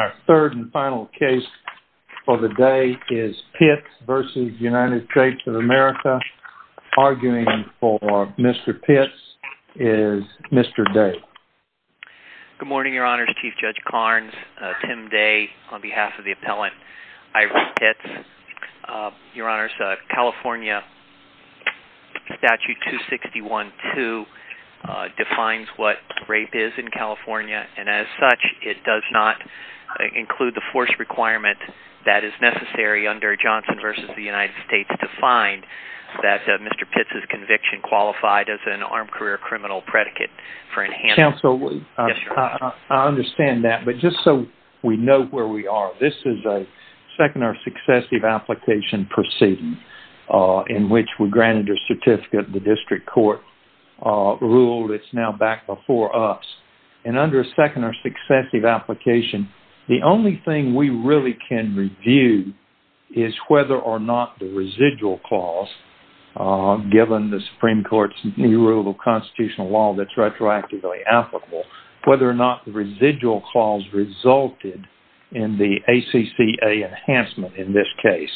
Our third and final case for the day is Pitts v. United States of America. Arguing for Mr. Pitts is Mr. Day. Good morning, Your Honors. Chief Judge Carnes, Tim Day, on behalf of the appellant Ivory Pitts. Your Honors, California Statute 261-2 defines what rape is in California, and as such it does not include the force requirement that is necessary under Johnson v. United States to find that Mr. Pitts' conviction qualified as an armed career criminal predicate. Counsel, I understand that, but just so we know where we are, this is a second or successive application proceeding in which we granted a certificate. The district court ruled it's now back before us. And under a second or successive application, the only thing we really can review is whether or not the residual clause, given the Supreme Court's new rule of constitutional law that's retroactively applicable, whether or not the residual clause resulted in the ACCA enhancement in this case.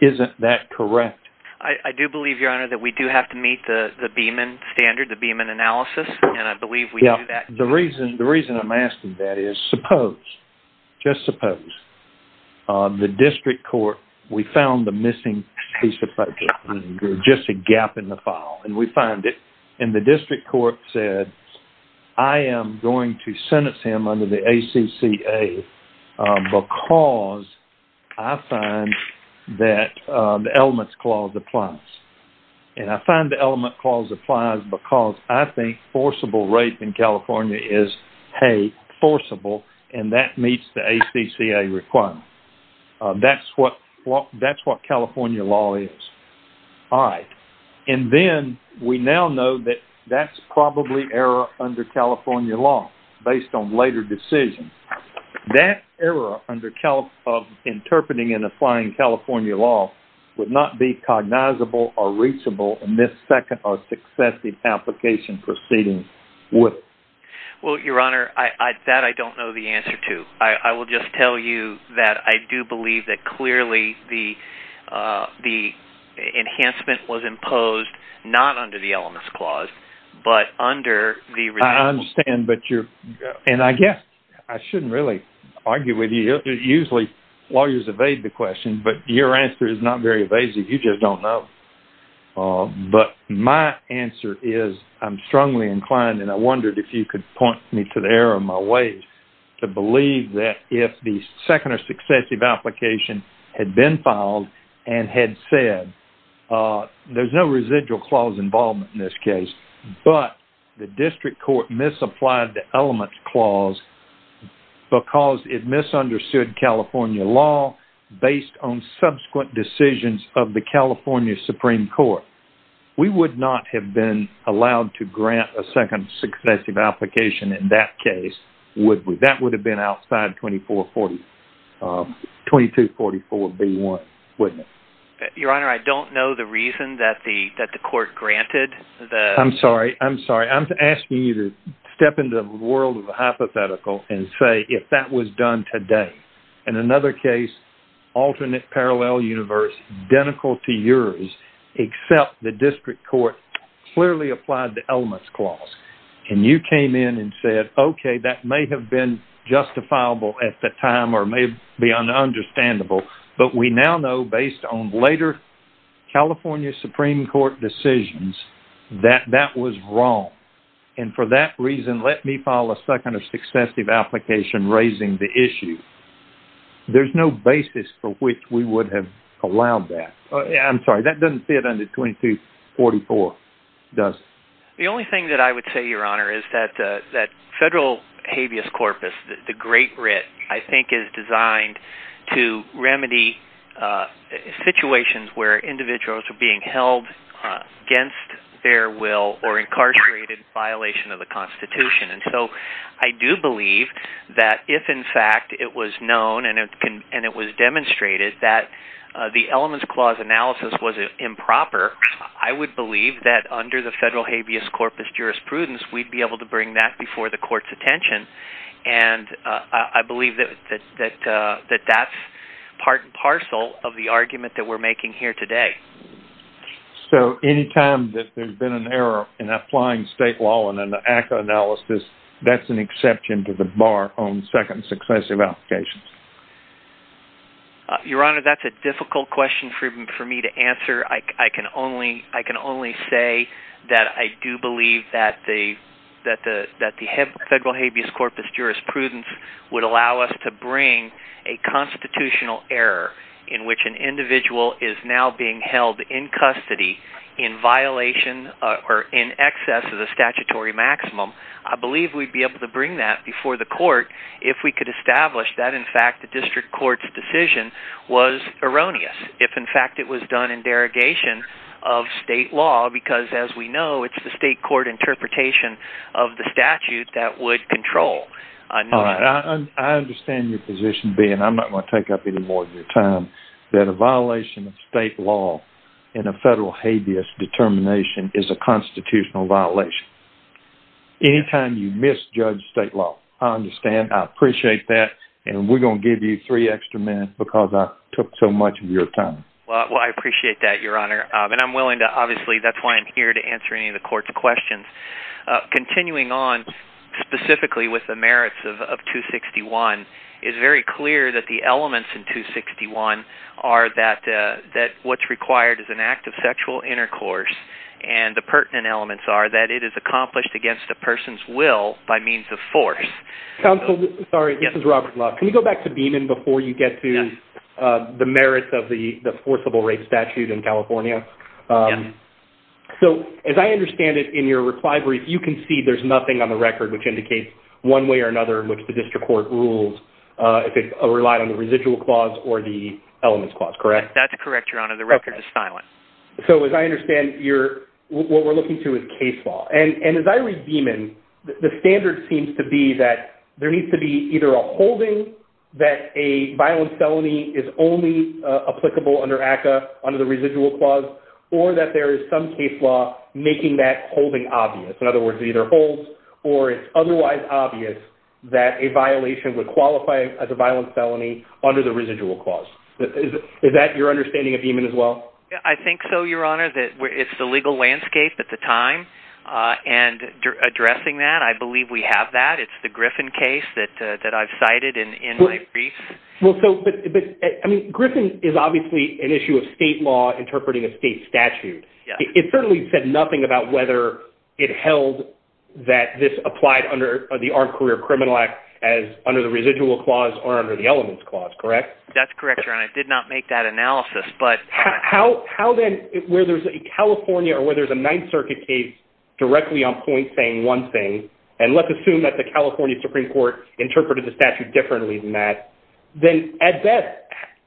Isn't that correct? I do believe, Your Honor, that we do have to meet the Beeman standard, the Beeman analysis, and I believe we do that. The reason I'm asking that is, suppose, just suppose, the district court, we found the missing piece of paper, just a gap in the file, and we find it, and the district court said, I am going to sentence him under the ACCA because I find that the elements clause applies. And I find the element clause applies because I think forcible rape in California is, hey, forcible, and that meets the ACCA requirement. That's what California law is. All right. And then we now know that that's probably error under California law, based on later decisions. That error of interpreting and applying California law would not be cognizable or reachable in this second or successive application proceeding. Well, Your Honor, that I don't know the answer to. I will just tell you that I do believe that clearly the enhancement was imposed, not under the elements clause, but under the residual clause. I understand, and I guess I shouldn't really argue with you. Usually lawyers evade the question, but your answer is not very evasive. You just don't know. But my answer is I'm strongly inclined, and I wondered if you could point me to the error of my ways, to believe that if the second or successive application had been filed and had said, there's no residual clause involvement in this case, but the district court misapplied the elements clause because it misunderstood California law based on subsequent decisions of the California Supreme Court. We would not have been allowed to grant a second or successive application in that case, would we? That would have been outside 2244B1, wouldn't it? Your Honor, I don't know the reason that the court granted the— I'm sorry. I'm sorry. I'm asking you to step into the world of a hypothetical and say if that was done today. In another case, alternate parallel universe, identical to yours, except the district court clearly applied the elements clause, and you came in and said, okay, that may have been justifiable at the time or may be un-understandable, but we now know based on later California Supreme Court decisions that that was wrong. And for that reason, let me file a second or successive application raising the issue. There's no basis for which we would have allowed that. I'm sorry. That doesn't fit under 2244, does it? The only thing that I would say, Your Honor, is that federal habeas corpus, the great writ, I think is designed to remedy situations where individuals are being held against their will or incarcerated in violation of the Constitution. And so I do believe that if, in fact, it was known and it was demonstrated that the elements clause analysis was improper, I would believe that under the federal habeas corpus jurisprudence, and I believe that that's part and parcel of the argument that we're making here today. So any time that there's been an error in applying state law in an ACCA analysis, that's an exception to the bar on second successive applications? Your Honor, that's a difficult question for me to answer. I can only say that I do believe that the federal habeas corpus jurisprudence would allow us to bring a constitutional error in which an individual is now being held in custody in violation or in excess of the statutory maximum. I believe we'd be able to bring that before the court if we could establish that, in fact, the district court's decision was erroneous. If, in fact, it was done in derogation of state law because, as we know, it's the state court interpretation of the statute that would control. All right. I understand your position being I'm not going to take up any more of your time that a violation of state law in a federal habeas determination is a constitutional violation. Any time you misjudge state law, I understand, I appreciate that, and we're going to give you three extra minutes because I took so much of your time. Well, I appreciate that, Your Honor, and I'm willing to, obviously, that's why I'm here to answer any of the court's questions. Continuing on specifically with the merits of 261, it's very clear that the elements in 261 are that what's required is an act of sexual intercourse, and the pertinent elements are that it is accomplished against a person's will by means of force. Counsel, sorry, this is Robert Love. Can you go back to Beaman before you get to the merits of the forcible rape statute in California? Yes. So, as I understand it, in your reply brief, you can see there's nothing on the record which indicates one way or another in which the district court rules if it relied on the residual clause or the elements clause, correct? That's correct, Your Honor. The record is silent. So, as I understand, what we're looking to is case law. And as I read Beaman, the standard seems to be that there needs to be either a holding that a violent felony is only applicable under ACCA, under the residual clause, or that there is some case law making that holding obvious. In other words, it either holds or it's otherwise obvious that a violation would qualify as a violent felony under the residual clause. Is that your understanding of Beaman as well? I think so, Your Honor, that it's the legal landscape at the time. And addressing that, I believe we have that. It's the Griffin case that I've cited in my brief. Well, so, but, I mean, Griffin is obviously an issue of state law interpreting a state statute. It certainly said nothing about whether it held that this applied under the Armed Career Criminal Act as under the residual clause or under the elements clause, correct? How then, where there's a California or where there's a Ninth Circuit case directly on point saying one thing, and let's assume that the California Supreme Court interpreted the statute differently than that, then at best,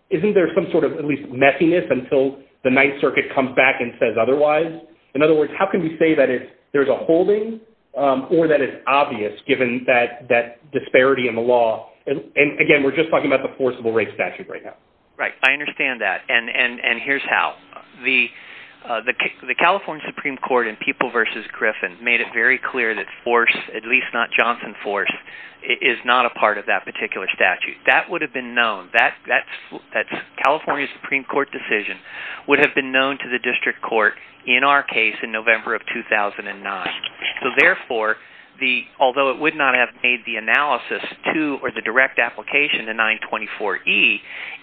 isn't there some sort of at least messiness until the Ninth Circuit comes back and says otherwise? In other words, how can we say that there's a holding or that it's obvious, given that disparity in the law? And, again, we're just talking about the forcible rape statute right now. Right, I understand that. And here's how. The California Supreme Court in People v. Griffin made it very clear that force, at least not Johnson force, is not a part of that particular statute. That would have been known. That California Supreme Court decision would have been known to the district court, in our case, in November of 2009. So, therefore, although it would not have made the analysis to or the direct application to 924E,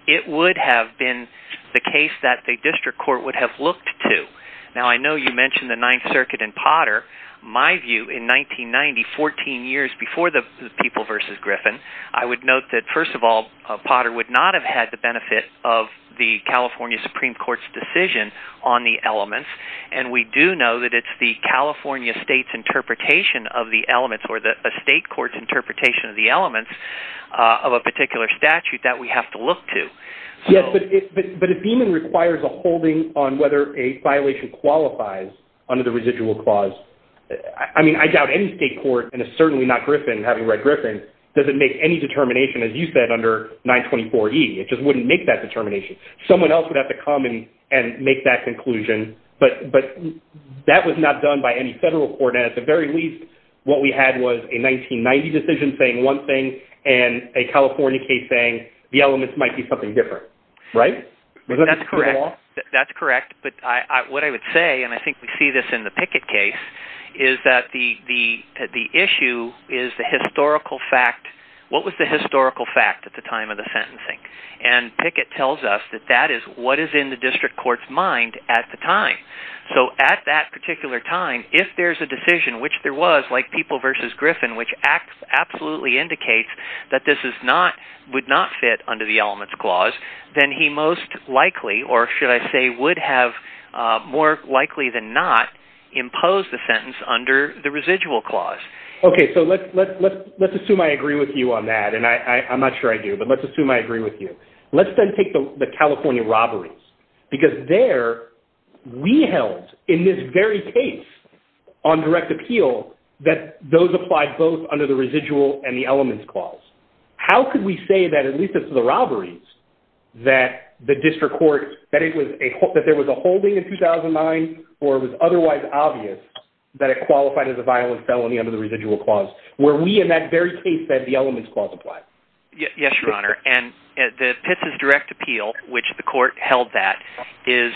it would have been the case that the district court would have looked to. Now, I know you mentioned the Ninth Circuit and Potter. My view, in 1990, 14 years before the People v. Griffin, I would note that, first of all, Potter would not have had the benefit of the California Supreme Court's decision on the elements, and we do know that it's the California state's interpretation of the elements or a state court's interpretation of the elements of a particular statute that we have to look to. Yes, but it even requires a holding on whether a violation qualifies under the residual clause. I mean, I doubt any state court, and it's certainly not Griffin, having read Griffin, doesn't make any determination, as you said, under 924E. It just wouldn't make that determination. Someone else would have to come and make that conclusion, but that was not done by any federal court. At the very least, what we had was a 1990 decision saying one thing and a California case saying the elements might be something different, right? That's correct, but what I would say, and I think we see this in the Pickett case, is that the issue is the historical fact. What was the historical fact at the time of the sentencing? And Pickett tells us that that is what is in the district court's mind at the time. So at that particular time, if there's a decision, which there was, like People v. Griffin, which absolutely indicates that this would not fit under the elements clause, then he most likely, or should I say would have more likely than not, imposed the sentence under the residual clause. Okay, so let's assume I agree with you on that, and I'm not sure I do, but let's assume I agree with you. Let's then take the California robberies, because there we held in this very case on direct appeal that those applied both under the residual and the elements clause. How could we say that, at least as to the robberies, that the district court, that there was a holding in 2009 or it was otherwise obvious that it qualified as a violent felony under the residual clause, where we in that very case said the elements clause applied? Yes, Your Honor, and the Pitts' direct appeal, which the court held that, is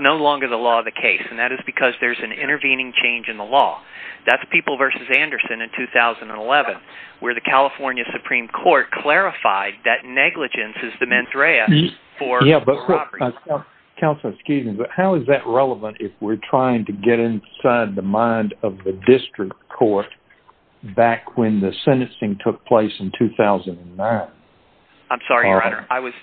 no longer the law of the case, and that is because there's an intervening change in the law. That's People v. Anderson in 2011, where the California Supreme Court clarified that negligence is the mens rea for robberies. Counselor, excuse me, but how is that relevant if we're trying to get inside the mind of the district court back when the sentencing took place in 2009? I'm sorry, Your Honor. I was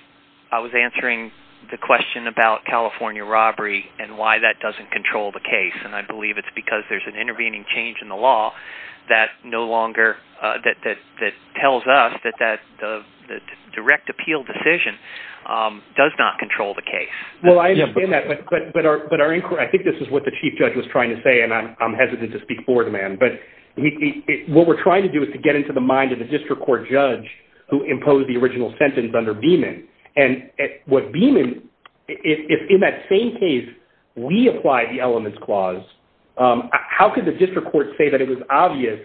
answering the question about California robbery and why that doesn't control the case, and I believe it's because there's an intervening change in the law that tells us that the direct appeal decision does not control the case. Well, I understand that, but I think this is what the chief judge was trying to say, and I'm hesitant to speak for the man, but what we're trying to do is to get into the mind of the district court judge who imposed the original sentence under Beeman. And what Beeman, if in that same case we applied the elements clause, how could the district court say that it was obvious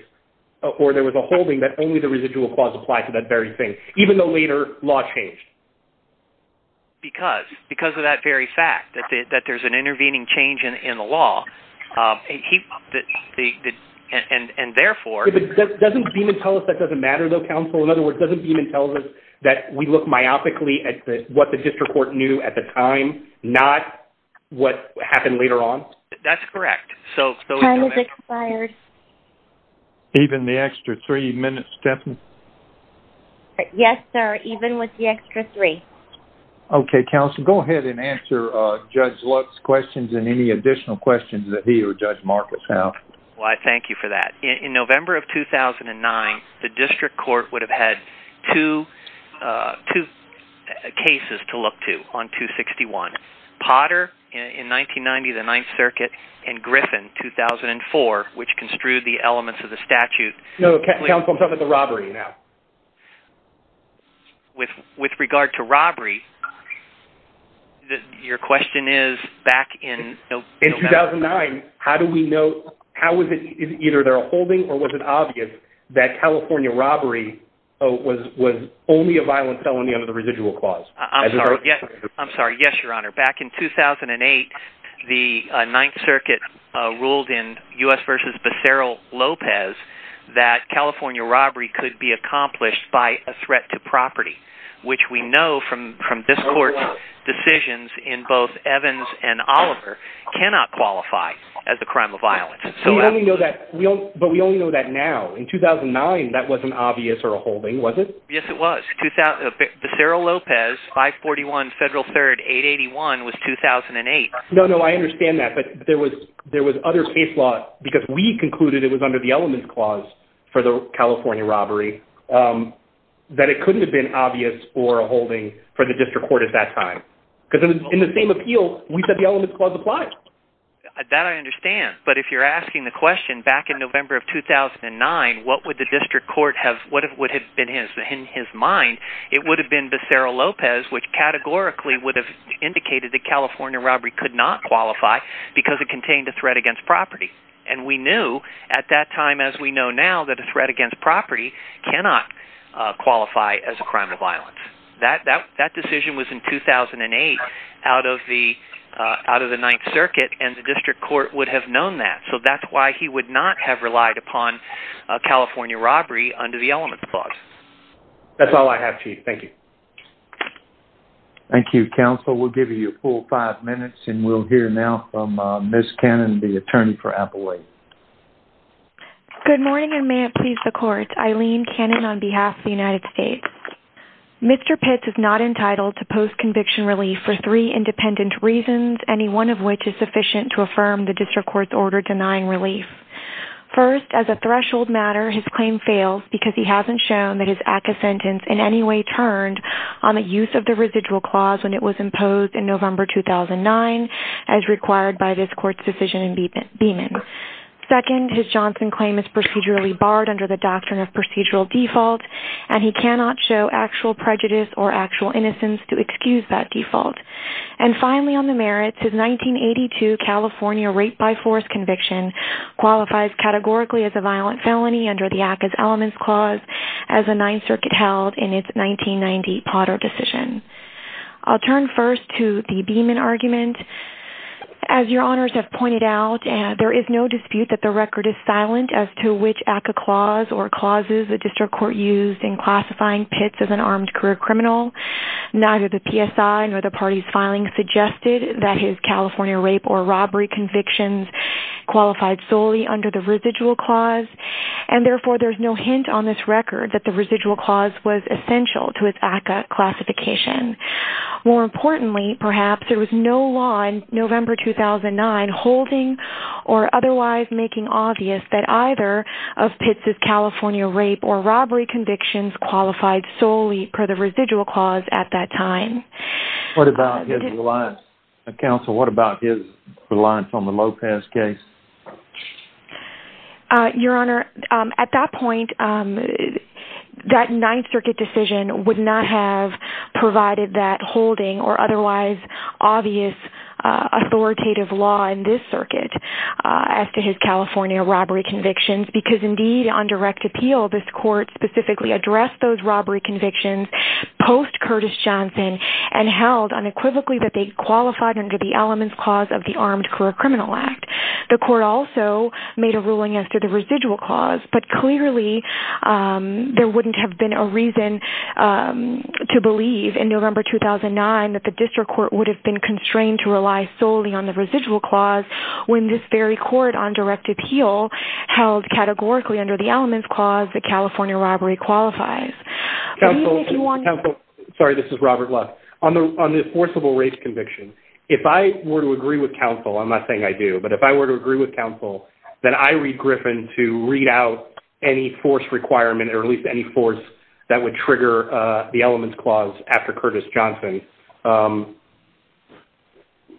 or there was a holding that only the residual clause applied to that very thing, even though later law changed? Because of that very fact, that there's an intervening change in the law. And therefore... Doesn't Beeman tell us that doesn't matter, though, counsel? In other words, doesn't Beeman tell us that we look myopically at what the district court knew at the time, not what happened later on? That's correct. Time has expired. Even the extra three minutes, Stephanie? Yes, sir, even with the extra three. Okay, counsel, go ahead and answer Judge Lutz's questions and any additional questions that he or Judge Marcus have. Well, I thank you for that. In November of 2009, the district court would have had two cases to look to on 261, Potter in 1990, the Ninth Circuit, and Griffin, 2004, which construed the elements of the statute. No, counsel, I'm talking about the robbery now. With regard to robbery, your question is back in November? In 2009, how do we know? How is it either they're holding or was it obvious that California robbery was only a violent felony under the residual clause? I'm sorry, yes, Your Honor. Back in 2008, the Ninth Circuit ruled in U.S. v. Becerra-Lopez that California robbery could be accomplished by a threat to property, which we know from this court's decisions in both Evans and Oliver cannot qualify as a crime of violence. But we only know that now. In 2009, that wasn't obvious or a holding, was it? Yes, it was. Becerra-Lopez, 541 Federal 3rd 881 was 2008. No, no, I understand that, but there was other case law because we concluded it was under the elements clause for the California robbery that it couldn't have been obvious or a holding for the district court at that time. Because in the same appeal, we said the elements clause applies. That I understand, but if you're asking the question, back in November of 2009, what would the district court have, what would have been in his mind, it would have been Becerra-Lopez, which categorically would have indicated that California robbery could not qualify because it contained a threat against property. And we knew at that time, as we know now, that a threat against property cannot qualify as a crime of violence. That decision was in 2008 out of the Ninth Circuit, and the district court would have known that. So that's why he would not have relied upon California robbery under the elements clause. That's all I have, Chief. Thank you. Thank you, counsel. We'll give you a full five minutes, and we'll hear now from Ms. Cannon, the attorney for Appalachia. Good morning, and may it please the court. Eileen Cannon on behalf of the United States. Mr. Pitts is not entitled to post-conviction relief for three independent reasons, any one of which is sufficient to affirm the district court's order denying relief. First, as a threshold matter, his claim fails because he hasn't shown that his ACCA sentence in any way turned on the use of the residual clause when it was imposed in November 2009, as required by this court's decision in Beeman. Second, his Johnson claim is procedurally barred under the doctrine of procedural default, and he cannot show actual prejudice or actual innocence to excuse that default. And finally, on the merits, his 1982 California rape-by-force conviction qualifies categorically as a violent felony under the ACCA's elements clause as the Ninth Circuit held in its 1990 Potter decision. I'll turn first to the Beeman argument. As your honors have pointed out, there is no dispute that the record is silent as to which ACCA clause or clauses the district court used in classifying Pitts as an armed career criminal. Neither the PSI nor the party's filing suggested that his California rape or robbery convictions qualified solely under the residual clause, and therefore there's no hint on this record that the residual clause was essential to its ACCA classification. More importantly, perhaps, there was no law in November 2009 holding or otherwise making obvious that either of Pitts' California rape or robbery convictions qualified solely per the residual clause at that time. What about his reliance... Counsel, what about his reliance on the Lopez case? Your honor, at that point, that Ninth Circuit decision would not have provided that holding or otherwise obvious authoritative law in this circuit as to his California robbery convictions because, indeed, on direct appeal, this court specifically addressed those robbery convictions post-Curtis Johnson and held unequivocally that they qualified under the elements clause of the Armed Career Criminal Act. The court also made a ruling as to the residual clause, but clearly there wouldn't have been a reason to believe in November 2009 that the district court would have been constrained to rely solely on the residual clause when this very court on direct appeal held categorically under the elements clause that California robbery qualifies. Counsel, counsel... Sorry, this is Robert Love. On the enforceable rape conviction, if I were to agree with counsel, I'm not saying I do, but if I were to agree with counsel that I read Griffin to read out any force requirement or at least any force that would trigger the elements clause after Curtis Johnson...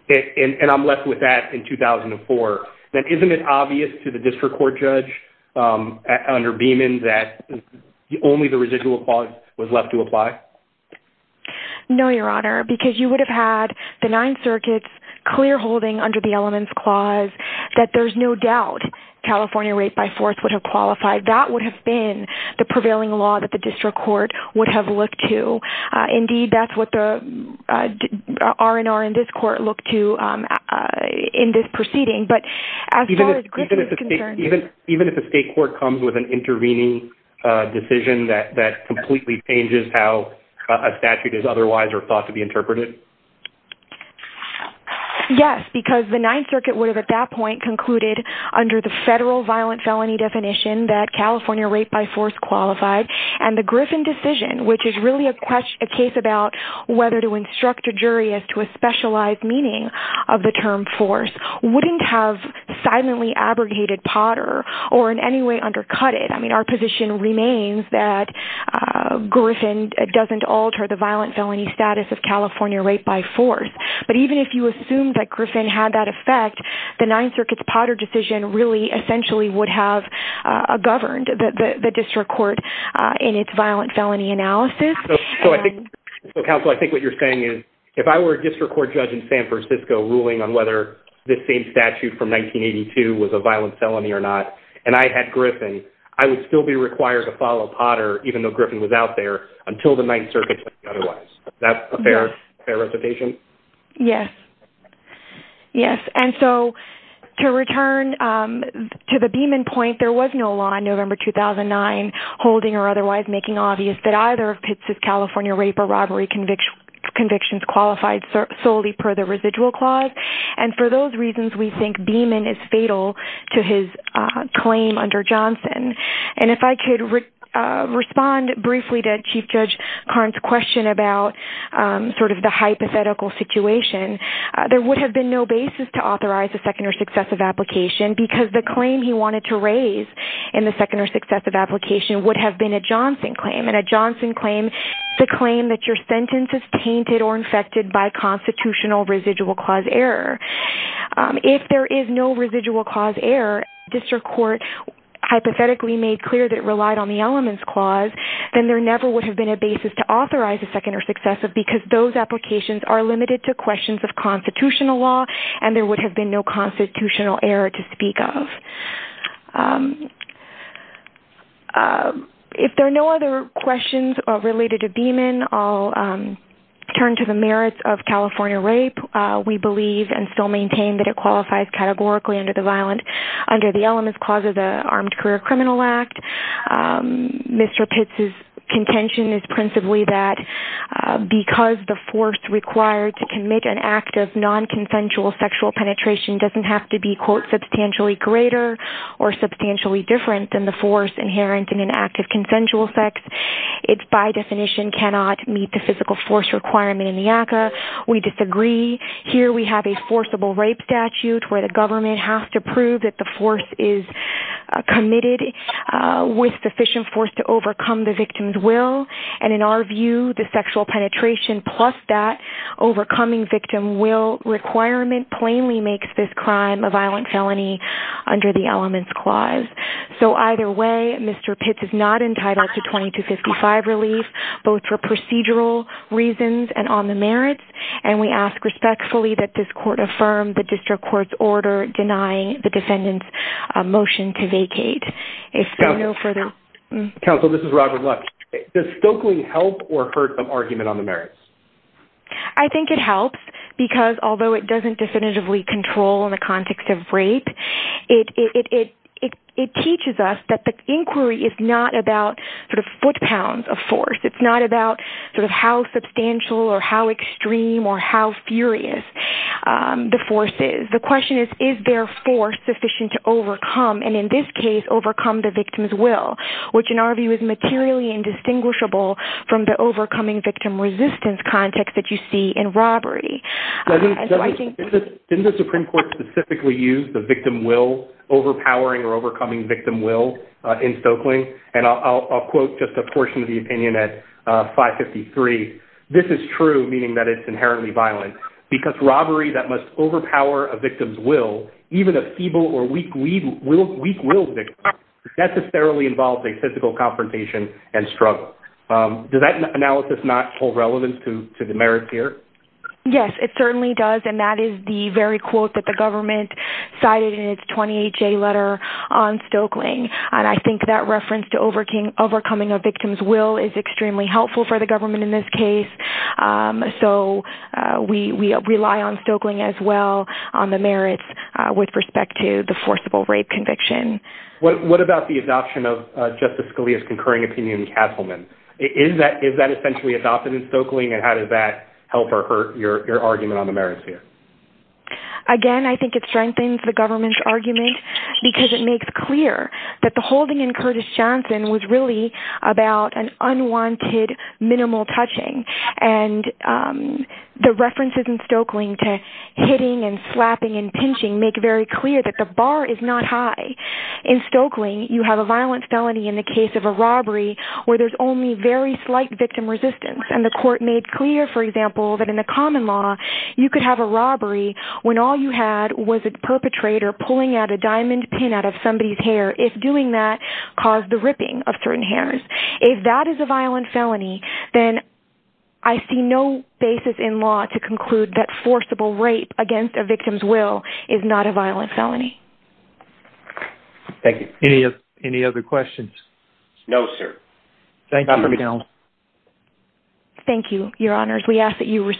..and I'm left with that in 2004, then isn't it obvious to the district court judge under Beeman that only the residual clause was left to apply? No, Your Honor, because you would have had the Ninth Circuit clear-holding under the elements clause that there's no doubt California rape by force would have qualified. That would have been the prevailing law that the district court would have looked to. Indeed, that's what the R&R in this court looked to in this proceeding. But as far as Griffin is concerned... Even if the state court comes with an intervening decision that completely changes how a statute is otherwise or thought to be interpreted? Yes, because the Ninth Circuit would have at that point concluded under the federal violent felony definition that California rape by force qualified, and the Griffin decision, which is really a case about whether to instruct a jury as to a specialized meaning of the term force, wouldn't have silently abrogated Potter or in any way undercut it. I mean, our position remains that Griffin doesn't alter the violent felony status of California rape by force. But even if you assume that Griffin had that effect, the Ninth Circuit's Potter decision really essentially would have governed the district court in its violent felony analysis. Counsel, I think what you're saying is if I were a district court judge in San Francisco ruling on whether this same statute from 1982 was a violent felony or not, and I had Griffin, I would still be required to follow Potter, even though Griffin was out there, until the Ninth Circuit said otherwise. Is that a fair representation? Yes. Yes, and so to return to the Beamon point, there was no law in November 2009 holding or otherwise making obvious that either of Pitts' California rape or robbery convictions qualified solely per the residual clause. And for those reasons, we think Beamon is fatal to his claim under Johnson. And if I could respond briefly to Chief Judge Karn's question about sort of the hypothetical situation, there would have been no basis to authorize a second or successive application because the claim he wanted to raise in the second or successive application would have been a Johnson claim, and a Johnson claim is a claim that your sentence is tainted or infected by constitutional residual clause error. If there is no residual clause error, if the district court hypothetically made clear that it relied on the elements clause, then there never would have been a basis to authorize a second or successive because those applications are limited to questions of constitutional law, and there would have been no constitutional error to speak of. If there are no other questions related to Beamon, I'll turn to the merits of California rape. We believe and still maintain that it qualifies categorically under the elements clause of the Armed Career Criminal Act. Mr. Pitts's contention is principally that because the force required to commit an act of nonconsensual sexual penetration doesn't have to be, quote, substantially greater or substantially different than the force inherent in an act of consensual sex, it by definition cannot meet the physical force requirement in the ACCA. We disagree. Here we have a forcible rape statute where the government has to prove that the force is committed with sufficient force to overcome the victim's will, and in our view, the sexual penetration plus that overcoming victim will requirement plainly makes this crime a violent felony under the elements clause. So either way, Mr. Pitts is not entitled to 2255 relief, both for procedural reasons and on the merits, and we ask respectfully that this court affirm the district court's order denying the defendant's motion to vacate. If there are no further... Counsel, this is Robert Lutz. Does Stokely help or hurt an argument on the merits? I think it helps because although it doesn't definitively control in the context of rape, it teaches us that the inquiry is not about sort of foot-pounds of force. It's not about sort of how substantial or how extreme or how furious the force is. The question is, is there force sufficient to overcome and in this case overcome the victim's will, which in our view is materially indistinguishable from the overcoming victim resistance context that you see in robbery. Didn't the Supreme Court specifically use the victim will, overpowering or overcoming victim will in Stokely? And I'll quote just a portion of the opinion at 553. This is true, meaning that it's inherently violent, because robbery that must overpower a victim's will, even a feeble or weak-willed victim, necessarily involves a physical confrontation and struggle. Does that analysis not hold relevance to the merits here? Yes, it certainly does, and that is the very quote that the government cited in its 28-J letter on Stokely. And I think that reference to overcoming a victim's will is extremely helpful for the government in this case. So we rely on Stokely as well, on the merits with respect to the forcible rape conviction. What about the adoption of Justice Scalia's concurring opinion in Castleman? Is that essentially adopted in Stokely, and how does that help or hurt your argument on the merits here? Again, I think it strengthens the government's argument because it makes clear that the holding in Curtis Johnson was really about an unwanted minimal touching. And the references in Stokely to hitting and slapping and pinching make very clear that the bar is not high. In Stokely, you have a violent felony in the case of a robbery where there's only very slight victim resistance, and the court made clear, for example, that in the common law, you could have a robbery when all you had was a perpetrator pulling out a diamond pin out of somebody's hair, if doing that caused the ripping of certain hairs. If that is a violent felony, then I see no basis in law to conclude that forcible rape against a victim's will is not a violent felony. Thank you. Any other questions? No, sir. Thank you. Thank you, Your Honors. We ask that you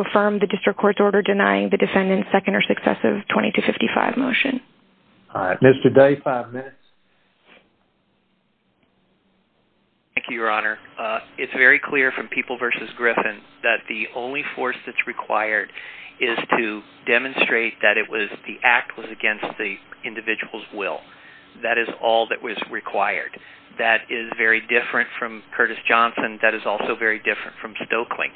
affirm the district court's order denying the defendant's second or successive 2255 motion. Mr. Day, five minutes. Thank you, Your Honor. It's very clear from People v. Griffin that the only force that's required is to demonstrate that the act was against the individual's will. That is all that was required. That is very different from Curtis Johnson. That is also very different from Stoeckling.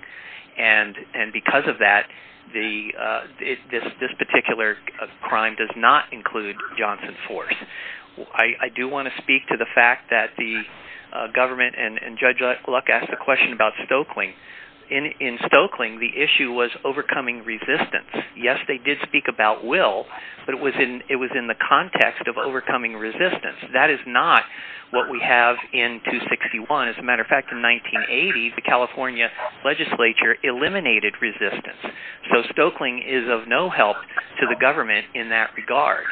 And because of that, this particular crime does not include Johnson's force. I do want to speak to the fact that the government and Judge Luck asked a question about Stoeckling. In Stoeckling, the issue was overcoming resistance. Yes, they did speak about will, but it was in the context of overcoming resistance. That is not what we have in 261. As a matter of fact, in 1980, the California legislature eliminated resistance. So Stoeckling is of no help to the government in that regard.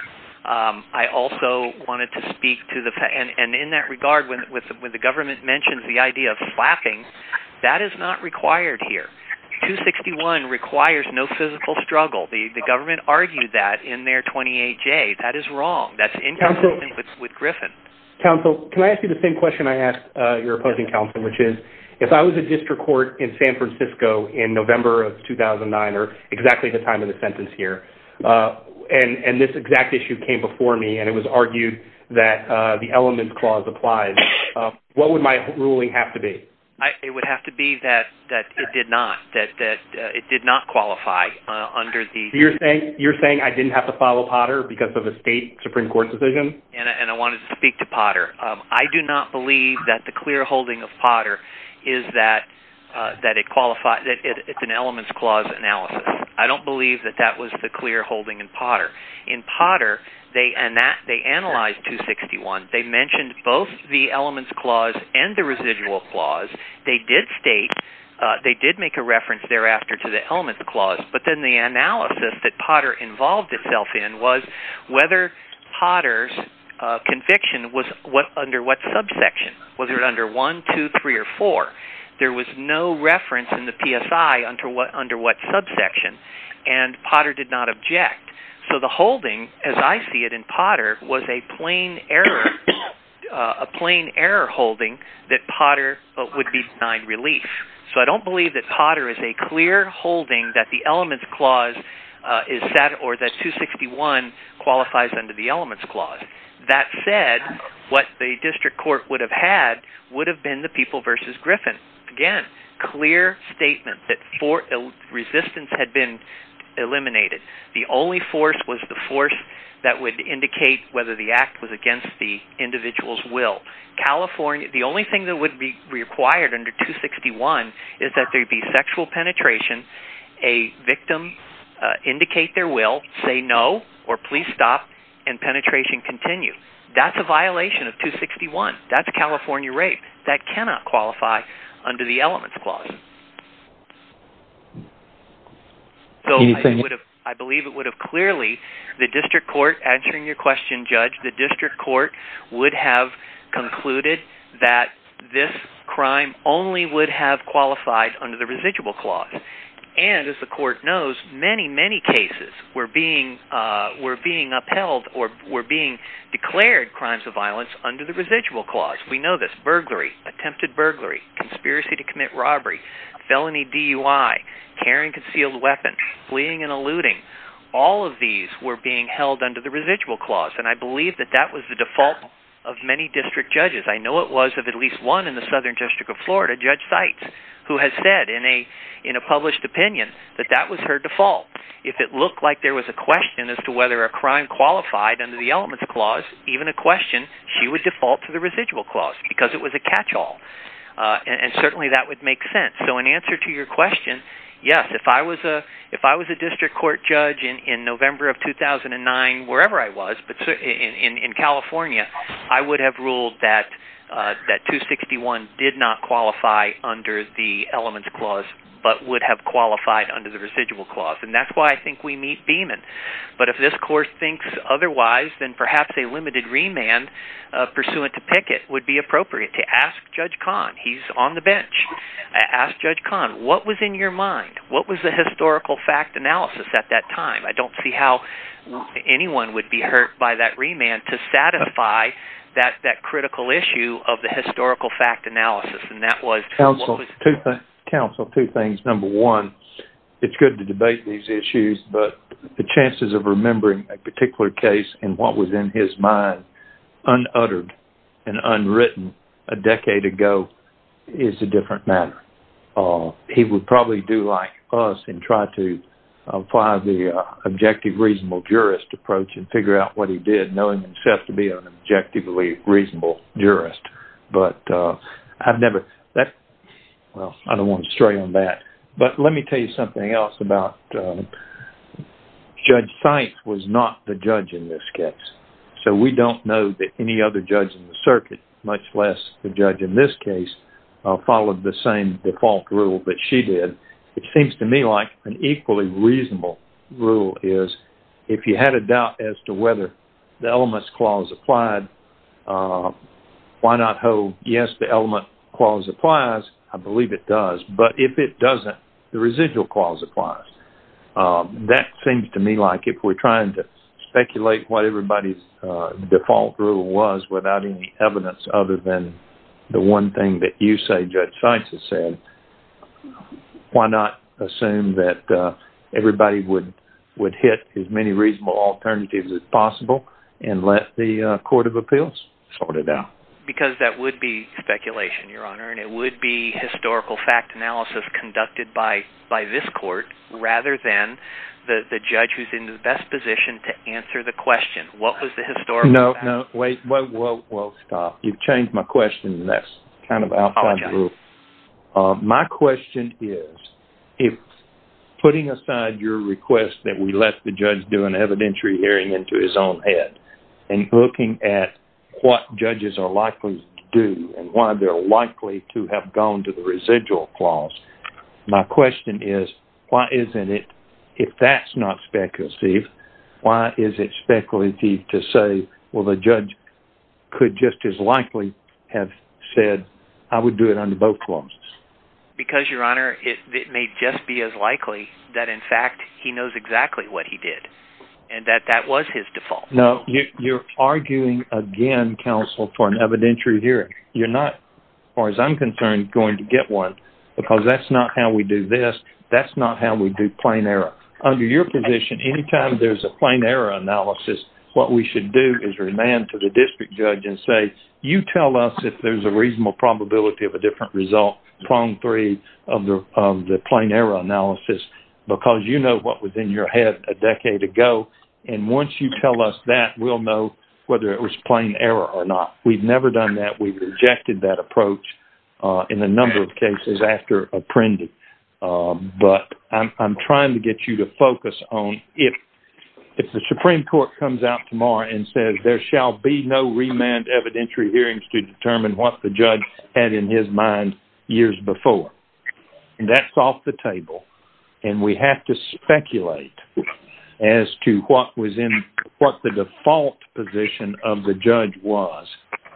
I also wanted to speak to the fact, and in that regard, when the government mentions the idea of slapping, that is not required here. 261 requires no physical struggle. The government argued that in their 28J. That is wrong. That is inconsistent with Griffin. Counsel, can I ask you the same question I asked your opposing counsel, which is if I was a district court in San Francisco in November of 2009, or exactly the time of the sentence here, and this exact issue came before me and it was argued that the elements clause applies, what would my ruling have to be? It would have to be that it did not. That it did not qualify under the... You are saying I did not have to follow Potter because of a state Supreme Court decision? And I wanted to speak to Potter. I do not believe that the clear holding of Potter is that it qualifies. It's an elements clause analysis. I don't believe that that was the clear holding in Potter. In Potter, they analyzed 261. They mentioned both the elements clause and the residual clause. They did state, they did make a reference thereafter to the elements clause, but then the analysis that Potter involved itself in was whether Potter's conviction was under what subsection. Was it under 1, 2, 3, or 4? There was no reference in the PSI under what subsection, and Potter did not object. So the holding, as I see it in Potter, was a plain error holding that Potter would be denied relief. So I don't believe that Potter is a clear holding that the elements clause or that 261 qualifies under the elements clause. That said, what the district court would have had would have been the people versus Griffin. Again, clear statement that resistance had been eliminated. The only force was the force that would indicate whether the act was against the individual's will. The only thing that would be required under 261 is that there be sexual penetration, a victim indicate their will, say no, or please stop, and penetration continue. That's a violation of 261. That's California rape. That cannot qualify under the elements clause. So I believe it would have clearly, the district court answering your question, Judge, the district court would have concluded that this crime only would have qualified under the residual clause. And as the court knows, many, many cases were being upheld or were being declared crimes of violence under the residual clause. We know this. Burglary, attempted burglary, conspiracy to commit robbery, felony DUI, carrying concealed weapons, fleeing and eluding, all of these were being held under the residual clause. And I believe that that was the default of many district judges. I know it was of at least one in the Southern District of Florida, Judge Seitz, who has said in a published opinion that that was her default. If it looked like there was a question as to whether a crime qualified under the elements clause, even a question, she would default to the residual clause because it was a catchall. And certainly that would make sense. So in answer to your question, yes, if I was a district court judge in November of 2009, wherever I was, in California I would have ruled that 261 did not qualify under the elements clause but would have qualified under the residual clause. And that's why I think we meet Beaman. But if this court thinks otherwise, then perhaps a limited remand pursuant to Pickett would be appropriate. Ask Judge Kahn. He's on the bench. Ask Judge Kahn, what was in your mind? What was the historical fact analysis at that time? I don't see how anyone would be hurt by that remand to satisfy that critical issue of the historical fact analysis. And that was what was— Counsel, two things. Number one, it's good to debate these issues, but the chances of remembering a particular case and what was in his mind unuttered and unwritten a decade ago is a different matter. He would probably do like us and try to apply the objective reasonable jurist approach and figure out what he did, knowing himself to be an objectively reasonable jurist. But I've never— Well, I don't want to stray on that. But let me tell you something else about— Judge Sainz was not the judge in this case. So we don't know that any other judge in the circuit, much less the judge in this case, followed the same default rule that she did. It seems to me like an equally reasonable rule is if you had a doubt as to whether the elements clause applied, why not hope, yes, the element clause applies? I believe it does. But if it doesn't, the residual clause applies. That seems to me like if we're trying to speculate what everybody's default rule was without any evidence other than the one thing that you say Judge Sainz has said, why not assume that everybody would hit as many reasonable alternatives as possible and let the court of appeals sort it out? Because that would be speculation, Your Honor, and it would be historical fact analysis conducted by this court rather than the judge who's in the best position to answer the question, what was the historical fact? No, no, wait. Whoa, whoa, whoa, stop. You've changed my question, and that's kind of outside the rule. Apologize. My question is, if putting aside your request that we let the judge do an evidentiary hearing into his own head and looking at what judges are likely to do and why they're likely to have gone to the residual clause, my question is, why isn't it, if that's not speculative, Steve, why is it speculative to say, well, the judge could just as likely have said, I would do it under both clauses? Because, Your Honor, it may just be as likely that, in fact, he knows exactly what he did and that that was his default. No, you're arguing again, counsel, for an evidentiary hearing. You're not, as far as I'm concerned, going to get one because that's not how we do this. That's not how we do plain error. Under your position, any time there's a plain error analysis, what we should do is remand to the district judge and say, you tell us if there's a reasonable probability of a different result, prong three, of the plain error analysis, because you know what was in your head a decade ago, and once you tell us that, we'll know whether it was plain error or not. We've never done that. We've rejected that approach in a number of cases after apprending. But I'm trying to get you to focus on if the Supreme Court comes out tomorrow and says, there shall be no remand evidentiary hearings to determine what the judge had in his mind years before, that's off the table, and we have to speculate as to what the default position of the judge was.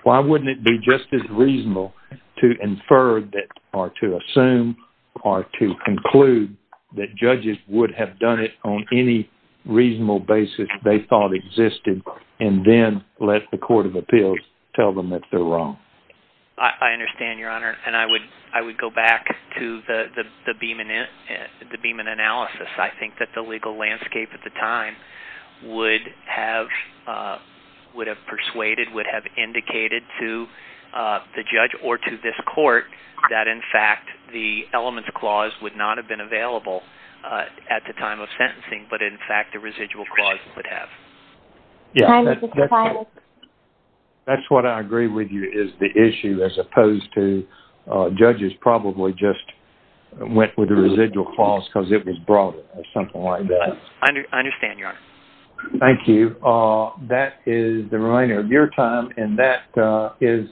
Why wouldn't it be just as reasonable to infer or to assume or to conclude that judges would have done it on any reasonable basis they thought existed and then let the Court of Appeals tell them that they're wrong? I understand, Your Honor, and I would go back to the Beeman analysis. I think that the legal landscape at the time would have persuaded, would have indicated to the judge or to this court that, in fact, the elements clause would not have been available at the time of sentencing, but, in fact, the residual clause would have. That's what I agree with you is the issue as opposed to judges probably just went with the residual clause because it was broader or something like that. I understand, Your Honor. Thank you. That is the remainder of your time, and that is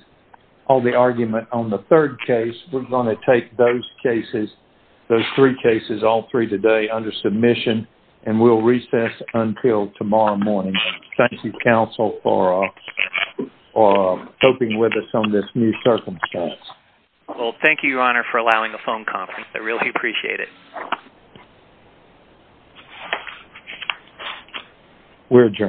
all the argument on the third case. We're going to take those cases, those three cases, all three today, under submission, and we'll recess until tomorrow morning. Thank you, counsel, for coping with us on this new circumstance. Well, thank you, Your Honor, for allowing a phone conference. I really appreciate it. We're adjourned.